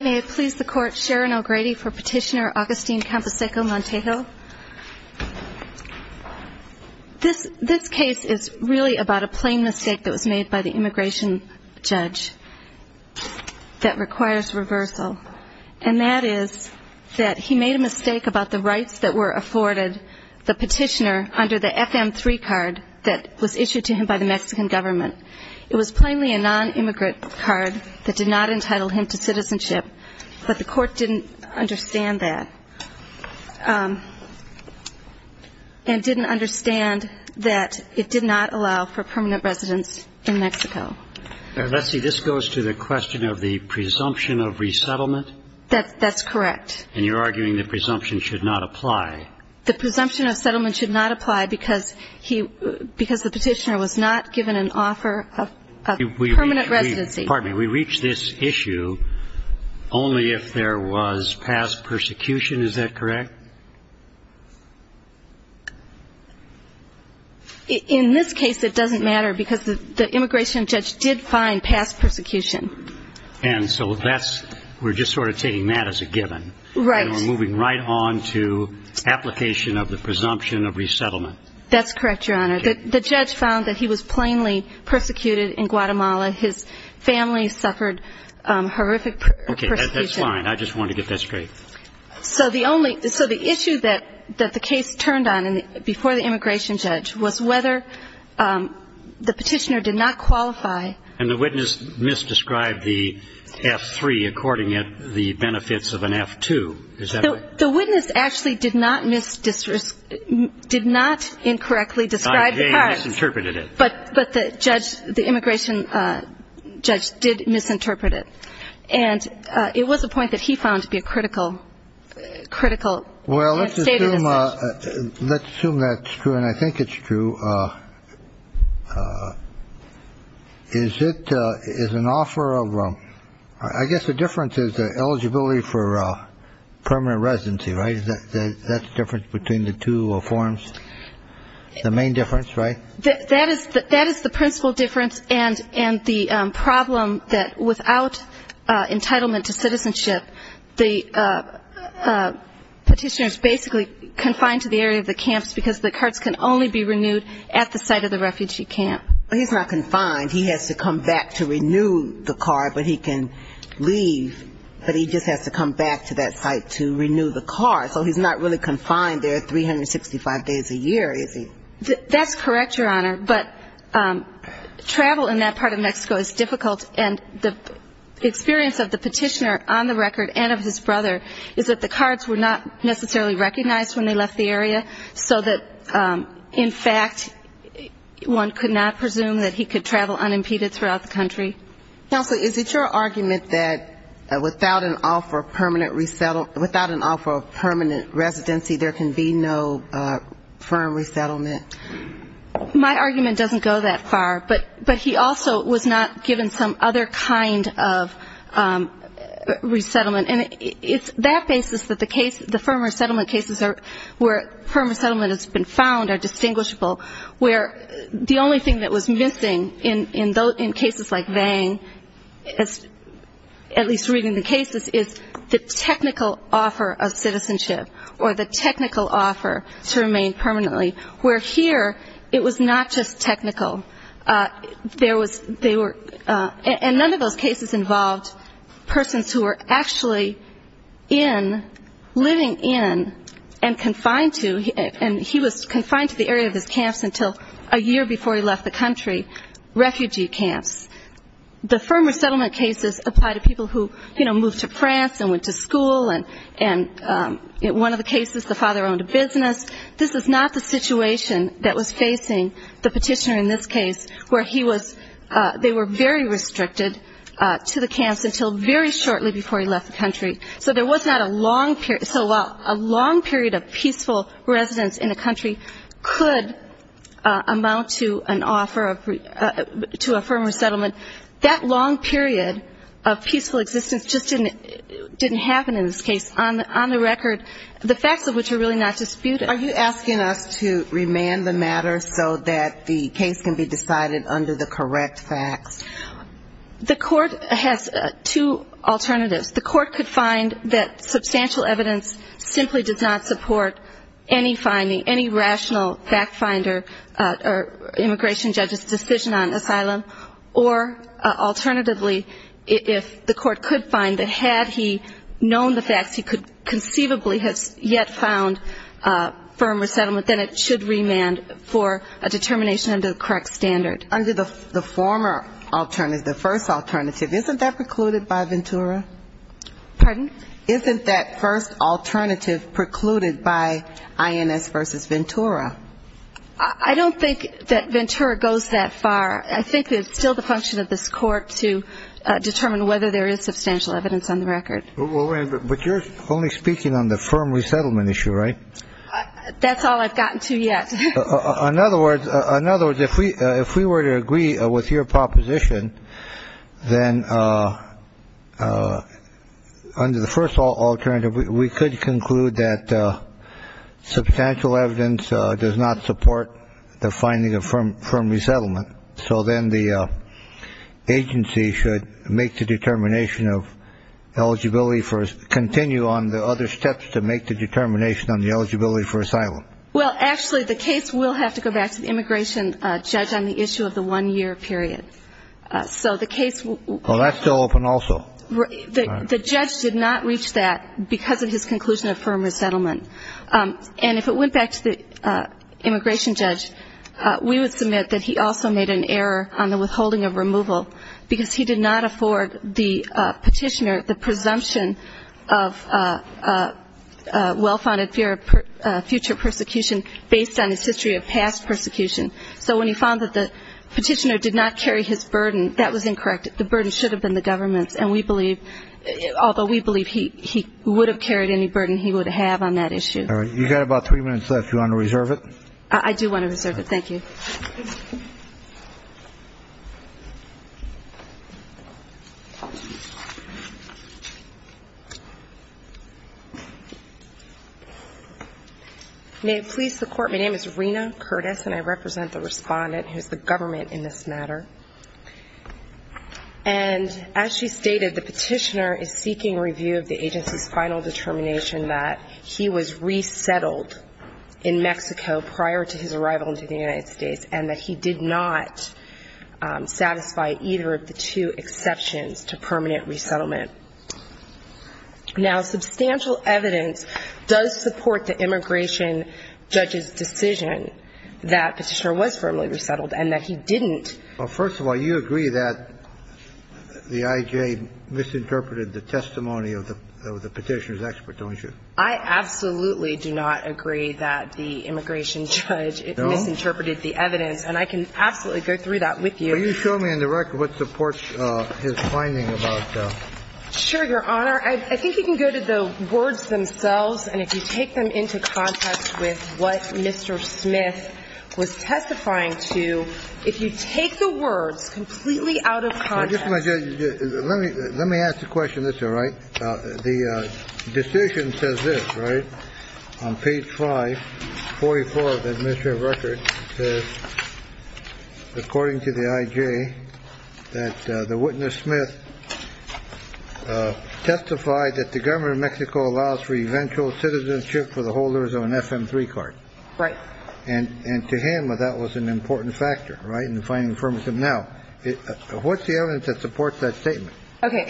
May it please the Court, Sharon O'Grady for Petitioner Agustin Camposeco-Montejo. This case is really about a plain mistake that was made by the immigration judge that requires reversal. And that is that he made a mistake about the rights that were afforded the petitioner under the FM-3 card that was issued to him by the Mexican government. It was plainly a non-immigrant card that did not entitle him to citizenship. But the Court didn't understand that and didn't understand that it did not allow for permanent residence in Mexico. Let's see, this goes to the question of the presumption of resettlement? That's correct. And you're arguing the presumption should not apply. The presumption of settlement should not apply because the petitioner was not given an offer of permanent residency. Pardon me, we reach this issue only if there was past persecution, is that correct? In this case it doesn't matter because the immigration judge did find past persecution. And so that's, we're just sort of taking that as a given. Right. And we're moving right on to application of the presumption of resettlement. That's correct, Your Honor. Okay. The judge found that he was plainly persecuted in Guatemala. His family suffered horrific persecution. Okay, that's fine. I just wanted to get that straight. So the only, so the issue that the case turned on before the immigration judge was whether the petitioner did not qualify. And the witness misdescribed the F3 according to the benefits of an F2, is that right? The witness actually did not misdescribe, did not incorrectly describe the cause. He misinterpreted it. But the judge, the immigration judge did misinterpret it. And it was a point that he found to be a critical, critical statement. Well, let's assume that's true. And I think it's true. Is it is an offer of. I guess the difference is the eligibility for permanent residency. Right. That's the difference between the two forms. The main difference. Right. That is that is the principal difference. And the problem that without entitlement to citizenship, the petitioner is basically confined to the area of the camps because the carts can only be renewed at the site of the refugee camp. He's not confined. He has to come back to renew the cart, but he can leave. But he just has to come back to that site to renew the cart. So he's not really confined there 365 days a year, is he? That's correct, Your Honor. But travel in that part of Mexico is difficult, and the experience of the petitioner on the record and of his brother is that the carts were not necessarily recognized when they left the area, so that, in fact, one could not presume that he could travel unimpeded throughout the country. Counsel, is it your argument that without an offer of permanent residency, there can be no firm resettlement? My argument doesn't go that far, but he also was not given some other kind of resettlement, and it's that basis that the firm resettlement cases where firm resettlement has been found are distinguishable, where the only thing that was missing in cases like Vang, at least reading the cases, is the technical offer of citizenship or the technical offer to remain permanently, where here it was not just technical. And none of those cases involved persons who were actually in, living in and confined to, and he was confined to the area of his camps until a year before he left the country, refugee camps. The firm resettlement cases apply to people who, you know, moved to France and went to school, and one of the cases, the father owned a business. This is not the situation that was facing the petitioner in this case, where he was, they were very restricted to the camps until very shortly before he left the country. So there was not a long period, so while a long period of peaceful residence in a country could amount to an offer of, to a firm resettlement, that long period of peaceful existence just didn't happen in this case. On the record, the facts of which are really not disputed. Are you asking us to remand the matter so that the case can be decided under the correct facts? The court has two alternatives. The court could find that substantial evidence simply does not support any finding, any rational fact finder or immigration judge's decision on asylum, or alternatively, if the court could find that had he known the facts, he could conceivably have yet found firm resettlement, then it should remand for a determination under the correct standard. Under the former alternative, the first alternative, isn't that precluded by Ventura? Pardon? Isn't that first alternative precluded by INS versus Ventura? I don't think that Ventura goes that far. I think it's still the function of this court to determine whether there is substantial evidence on the record. But you're only speaking on the firm resettlement issue, right? That's all I've gotten to yet. In other words, if we were to agree with your proposition, then under the first alternative, we could conclude that substantial evidence does not support the finding of firm resettlement. So then the agency should make the determination of eligibility, continue on the other steps to make the determination on the eligibility for asylum. Well, actually, the case will have to go back to the immigration judge on the issue of the one-year period. So the case... Well, that's still open also. The judge did not reach that because of his conclusion of firm resettlement. And if it went back to the immigration judge, we would submit that he also made an error on the withholding of removal because he did not afford the petitioner the presumption of well-founded fear of future persecution based on his history of past persecution. So when he found that the petitioner did not carry his burden, that was incorrect. The burden should have been the government's, and we believe, although we believe he would have carried any burden he would have on that issue. All right. You've got about three minutes left. Do you want to reserve it? I do want to reserve it. Thank you. May it please the Court, my name is Rena Curtis, and I represent the respondent who is the government in this matter. And as she stated, the petitioner is seeking review of the agency's final determination that he was resettled in Mexico prior to his arrival into the United States and that he did not satisfy either of the two exceptions to permanent resettlement. Now, substantial evidence does support the immigration judge's decision that that petitioner was firmly resettled and that he didn't. Well, first of all, you agree that the I.J. misinterpreted the testimony of the petitioner's expert, don't you? I absolutely do not agree that the immigration judge misinterpreted the evidence, and I can absolutely go through that with you. Can you show me in the record what supports his finding about the ---- was testifying to if you take the words completely out of context. Let me ask a question. That's all right. The decision says this, right? On page 544 of the administrative record, according to the I.J., that the witness, Smith, testified that the government of Mexico allows for eventual citizenship for the holders of an F.M. 3 card. Right. And to him, that was an important factor, right, in the finding of Firmism. Now, what's the evidence that supports that statement? Okay.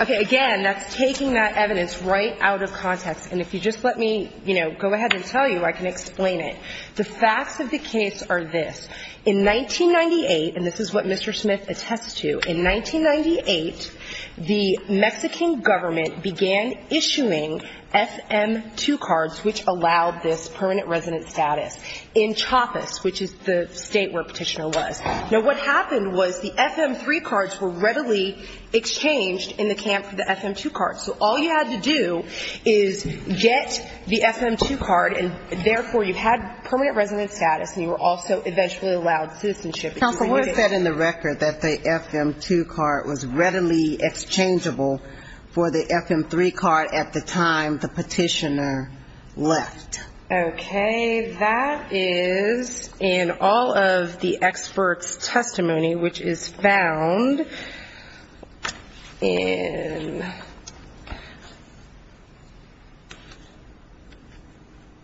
Okay. Again, that's taking that evidence right out of context. And if you just let me, you know, go ahead and tell you, I can explain it. The facts of the case are this. In 1998, and this is what Mr. Smith attests to, in 1998, the Mexican government began issuing F.M. 2 cards, which allowed this permanent resident status, in Chiapas, which is the state where Petitioner was. Now, what happened was the F.M. 3 cards were readily exchanged in the camp for the F.M. 2 cards. So all you had to do is get the F.M. 2 card, and therefore you had permanent resident status and you were also eventually allowed citizenship. Counsel, what is said in the record that the F.M. 2 card was readily exchangeable for the F.M. 3 card at the time the Petitioner left? Okay. That is in all of the expert's testimony, which is found in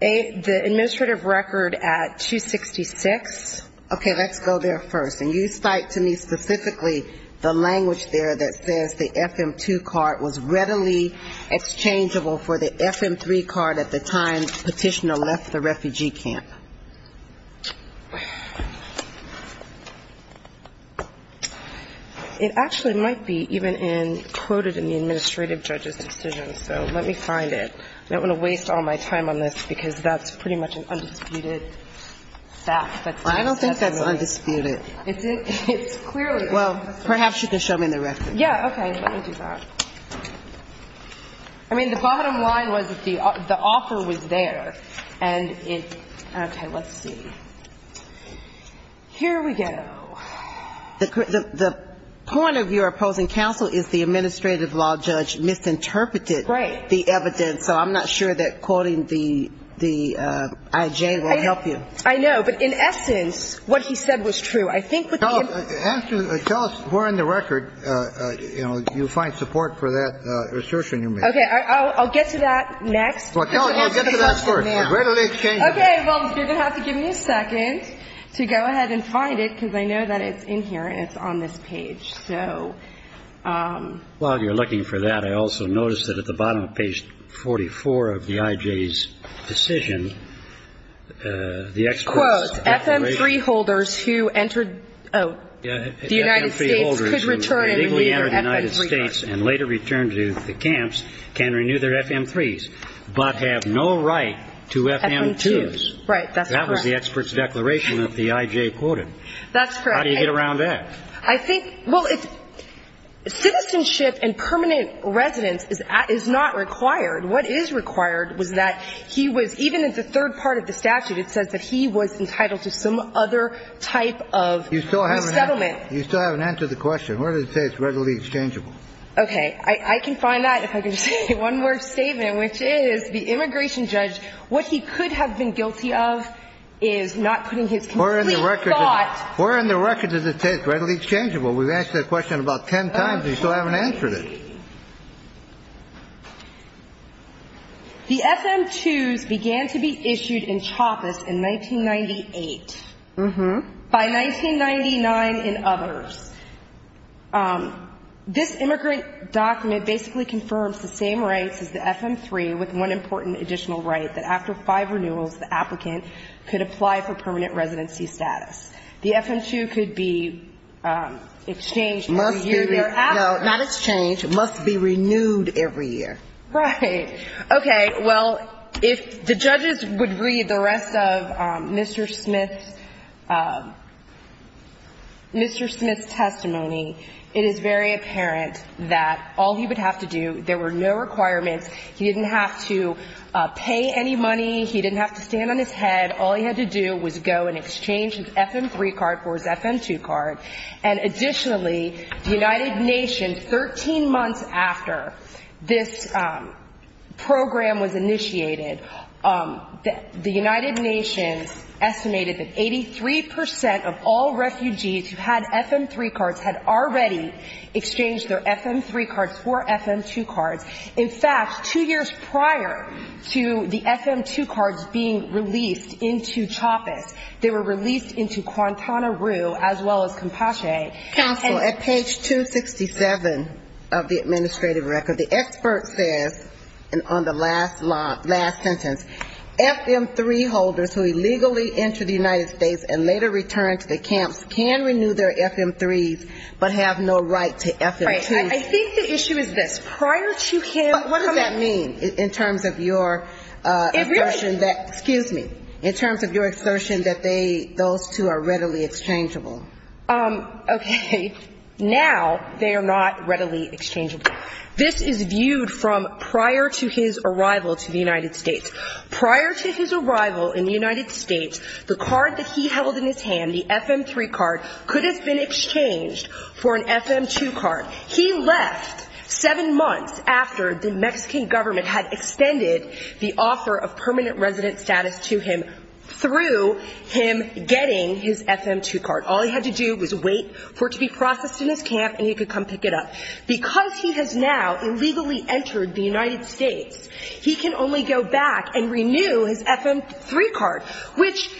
the administrative record at 266. Okay, let's go there first. And you cite to me specifically the language there that says the F.M. 2 card was readily exchangeable for the F.M. 3 card at the time Petitioner left the refugee camp. It actually might be even quoted in the administrative judge's decision, so let me find it. I don't want to waste all my time on this, because that's pretty much an undisputed fact. I don't think that's undisputed. It's clearly undisputed. Well, perhaps you can show me the record. Yeah, okay. Let me do that. I mean, the bottom line was that the offer was there, and it's – okay, let's see. Here we go. The point of your opposing counsel is the administrative law judge misinterpreted the evidence, so I'm not sure that quoting the I.J. will help you. I know. But in essence, what he said was true. I think what the – Tell us where in the record, you know, you find support for that assertion you made. Okay. I'll get to that next. Well, get to that first. It readily exchangeable. Okay. Well, you're going to have to give me a second to go ahead and find it, because I know that it's in here and it's on this page. While you're looking for that, I also noticed that at the bottom of page 44 of the I.J.'s decision, the experts' declaration Quote, FM-3 holders who entered – oh, the United States could return and renew their FM-3 cards. FM-3 holders who legally entered the United States and later returned to the camps can renew their FM-3s, but have no right to FM-2s. Right. That's correct. That was the expert's declaration that the I.J. quoted. That's correct. How do you get around that? I think – well, citizenship and permanent residence is not required. What is required was that he was – even in the third part of the statute, it says that he was entitled to some other type of resettlement. You still haven't answered the question. Where does it say it's readily exchangeable? Okay. I can find that if I can say one more statement, which is the immigration judge – what he could have been guilty of is not putting his complete thought Where in the record does it say it's readily exchangeable? We've asked that question about ten times and you still haven't answered it. The FM-2s began to be issued in CHOPIS in 1998. Mm-hmm. By 1999 in others. This immigrant document basically confirms the same rights as the FM-3 with one important additional right, that after five renewals, the applicant could apply for permanent residency status. The FM-2 could be exchanged every year. No, not exchanged. It must be renewed every year. Right. Okay. Well, if the judges would read the rest of Mr. Smith's – Mr. Smith's testimony, it is very apparent that all he would have to do – there were no requirements. He didn't have to pay any money. He didn't have to stand on his head. All he had to do was go and exchange his FM-3 card for his FM-2 card. And additionally, the United Nations, 13 months after this program was initiated, the United Nations estimated that 83 percent of all refugees who had FM-3 cards had already exchanged their FM-3 cards for FM-2 cards. In fact, two years prior to the FM-2 cards being released into CHOPIS, they were released into Guantanamo as well as Compache. Counsel, at page 267 of the administrative record, the expert says, and on the last sentence, FM-3 holders who illegally enter the United States and later return to the camps can renew their FM-3s but have no right to FM-2s. All right. I think the issue is this. Prior to him – But what does that mean in terms of your assertion that – It really – Excuse me. In terms of your assertion that they – those two are readily exchangeable. Okay. Now they are not readily exchangeable. This is viewed from prior to his arrival to the United States. Prior to his arrival in the United States, the card that he held in his hand, the FM-3 card, could have been exchanged for an FM-2 card. He left seven months after the Mexican government had extended the offer of permanent resident status to him through him getting his FM-2 card. All he had to do was wait for it to be processed in his camp and he could come pick it up. Because he has now illegally entered the United States, he can only go back and renew his FM-3 card, which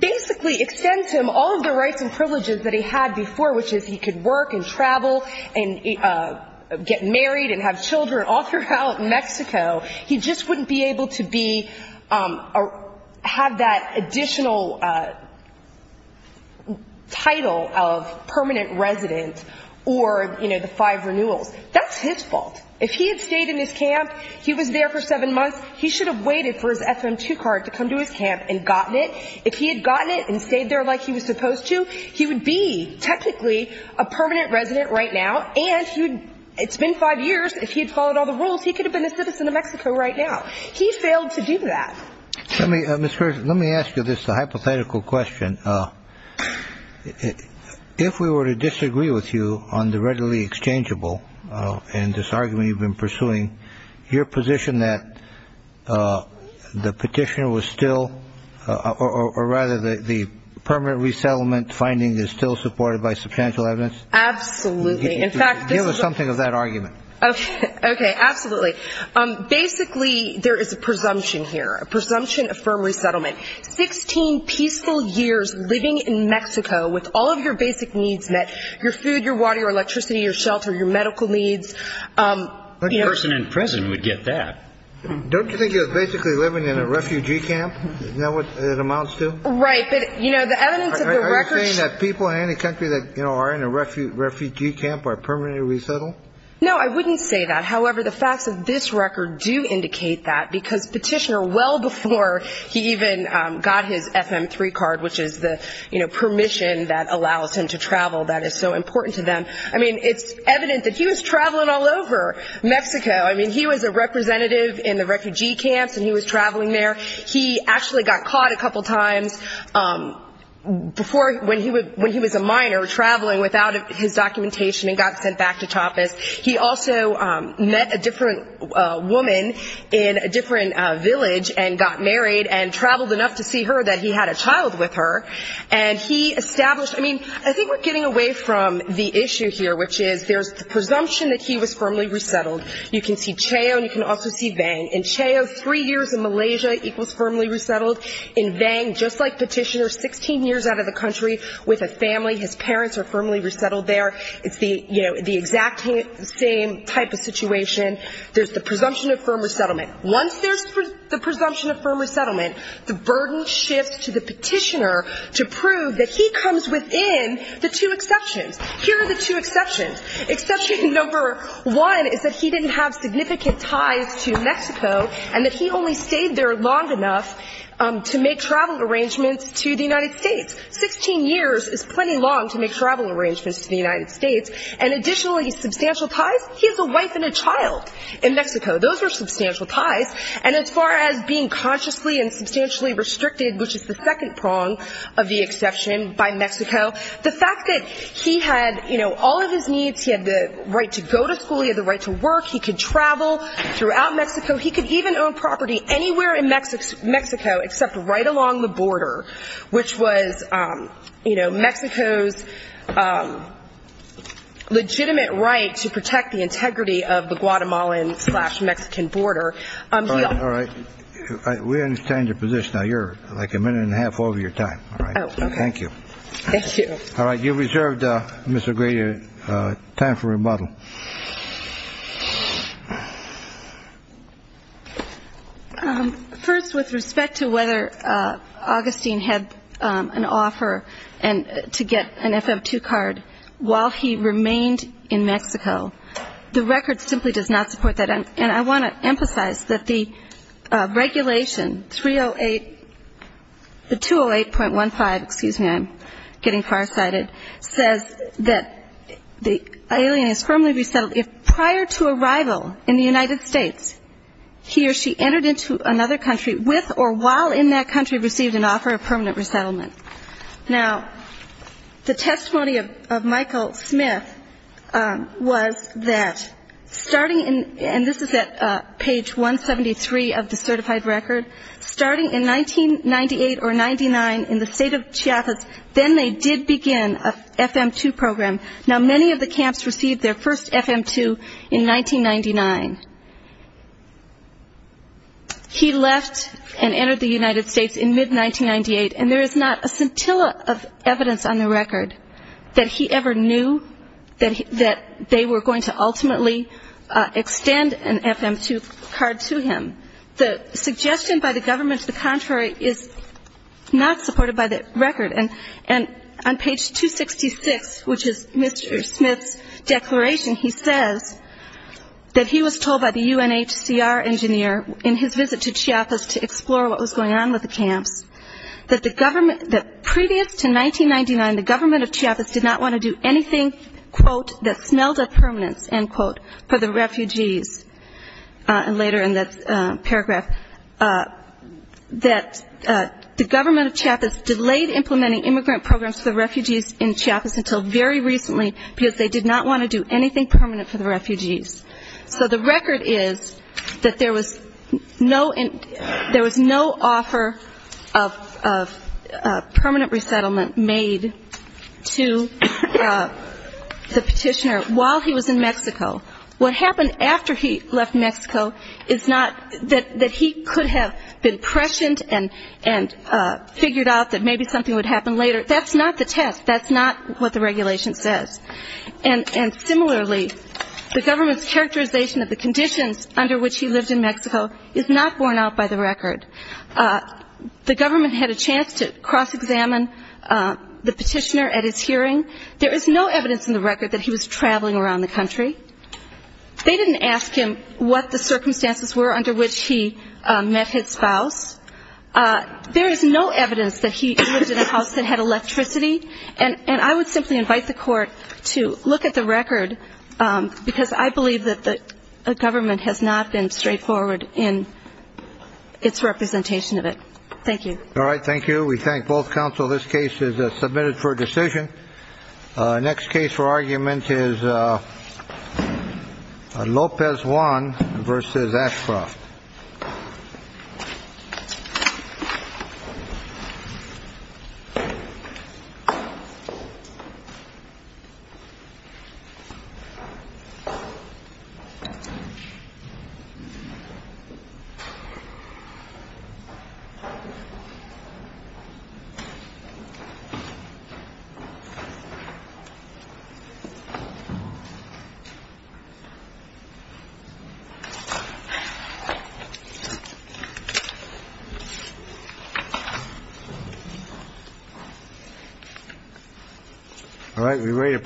basically extends him all of the rights and privileges that he had before, which is he could work and travel and get married and have children all throughout Mexico. He just wouldn't be able to be – have that additional title of permanent resident or, you know, the five renewals. That's his fault. If he had stayed in his camp, he was there for seven months, he should have waited for his FM-2 card to come to his camp and gotten it. If he had gotten it and stayed there like he was supposed to, he would be technically a permanent resident right now. And it's been five years. If he had followed all the rules, he could have been a citizen of Mexico right now. He failed to do that. Let me ask you this hypothetical question. If we were to disagree with you on the readily exchangeable and this argument you've been pursuing, your position that the petitioner was still – or rather the permanent resettlement finding is still supported by substantial evidence? Absolutely. In fact, this is a – Give us something of that argument. Okay. Absolutely. Basically, there is a presumption here, a presumption of firm resettlement. Sixteen peaceful years living in Mexico with all of your basic needs met, your food, your water, your electricity, your shelter, your medical needs – The person in prison would get that. Don't you think he was basically living in a refugee camp? Is that what it amounts to? Right. But, you know, the evidence of the records – Are you saying that people in any country that, you know, are in a refugee camp are permanently resettled? No, I wouldn't say that. However, the facts of this record do indicate that because petitioner, well before he even got his FM-3 card, which is the, you know, permission that allows him to travel that is so important to them – I mean, it's evident that he was traveling all over Mexico. I mean, he was a representative in the refugee camps and he was traveling there. He actually got caught a couple times before when he was a minor, traveling without his documentation and got sent back to Tapas. He also met a different woman in a different village and got married and traveled enough to see her that he had a child with her. And he established – I mean, I think we're getting away from the issue here, which is there's the presumption that he was firmly resettled. You can see Cheo and you can also see Vang. In Cheo, three years in Malaysia equals firmly resettled. In Vang, just like petitioner, 16 years out of the country with a family. His parents are firmly resettled there. It's the, you know, the exact same type of situation. There's the presumption of firm resettlement. Once there's the presumption of firm resettlement, the burden shifts to the petitioner to prove that he comes within the two exceptions. Here are the two exceptions. Exception number one is that he didn't have significant ties to Mexico and that he only stayed there long enough to make travel arrangements to the United States. Sixteen years is plenty long to make travel arrangements to the United States. And additionally, substantial ties, he has a wife and a child in Mexico. Those are substantial ties. And as far as being consciously and substantially restricted, which is the second prong of the exception by Mexico, the fact that he had, you know, all of his needs. He had the right to go to school. He had the right to work. He could travel throughout Mexico. He could even own property anywhere in Mexico except right along the border, which was, you know, Mexico's legitimate right to protect the integrity of the Guatemalan slash Mexican border. All right. We understand your position. Now you're like a minute and a half over your time. Thank you. All right. You've reserved, Mr. Grady, time for rebuttal. First, with respect to whether Augustine had an offer to get an FF2 card while he remained in Mexico, the record simply does not support that. And I want to emphasize that the regulation 308, the 208.15, excuse me, I'm getting farsighted, says that the alien is firmly resettled if prior to arrival in the United States he or she entered into another country with or while in that country received an offer of permanent resettlement. Now, the testimony of Michael Smith was that starting in, and this is at page 173 of the certified record, starting in 1998 or 99 in the state of Chiapas, then they did begin an FM2 program. Now, many of the camps received their first FM2 in 1999. He left and entered the United States in mid-1998, and there is not a scintilla of evidence on the record that he ever knew that they were going to ultimately extend an FM2 card to him. The suggestion by the government to the contrary is not supported by the record. And on page 266, which is Mr. Smith's declaration, he says that he was told by the UNHCR engineer in his visit to Chiapas to explore what was going on with the camps, that previous to 1999 the government of Chiapas did not want to do anything, quote, that smelled of permanence, end quote, for the refugees, and later in that paragraph, that the government of Chiapas delayed implementing immigrant programs for the refugees in Chiapas until very recently because they did not want to do anything permanent for the refugees. So the record is that there was no offer of permanent resettlement made to the petitioner while he was in Mexico. What happened after he left Mexico is not that he could have been prescient and figured out that maybe something would happen later. That's not the test. That's not what the regulation says. And similarly, the government's characterization of the conditions under which he lived in Mexico is not borne out by the record. The government had a chance to cross-examine the petitioner at his hearing. There is no evidence in the record that he was traveling around the country. They didn't ask him what the circumstances were under which he met his spouse. There is no evidence that he lived in a house that had electricity. And I would simply invite the court to look at the record because I believe that the government has not been straightforward in its representation of it. Thank you. All right, thank you. We thank both counsel. This case is submitted for decision. Next case for argument is Lopez one versus Ashcroft. All right, we're ready to proceed.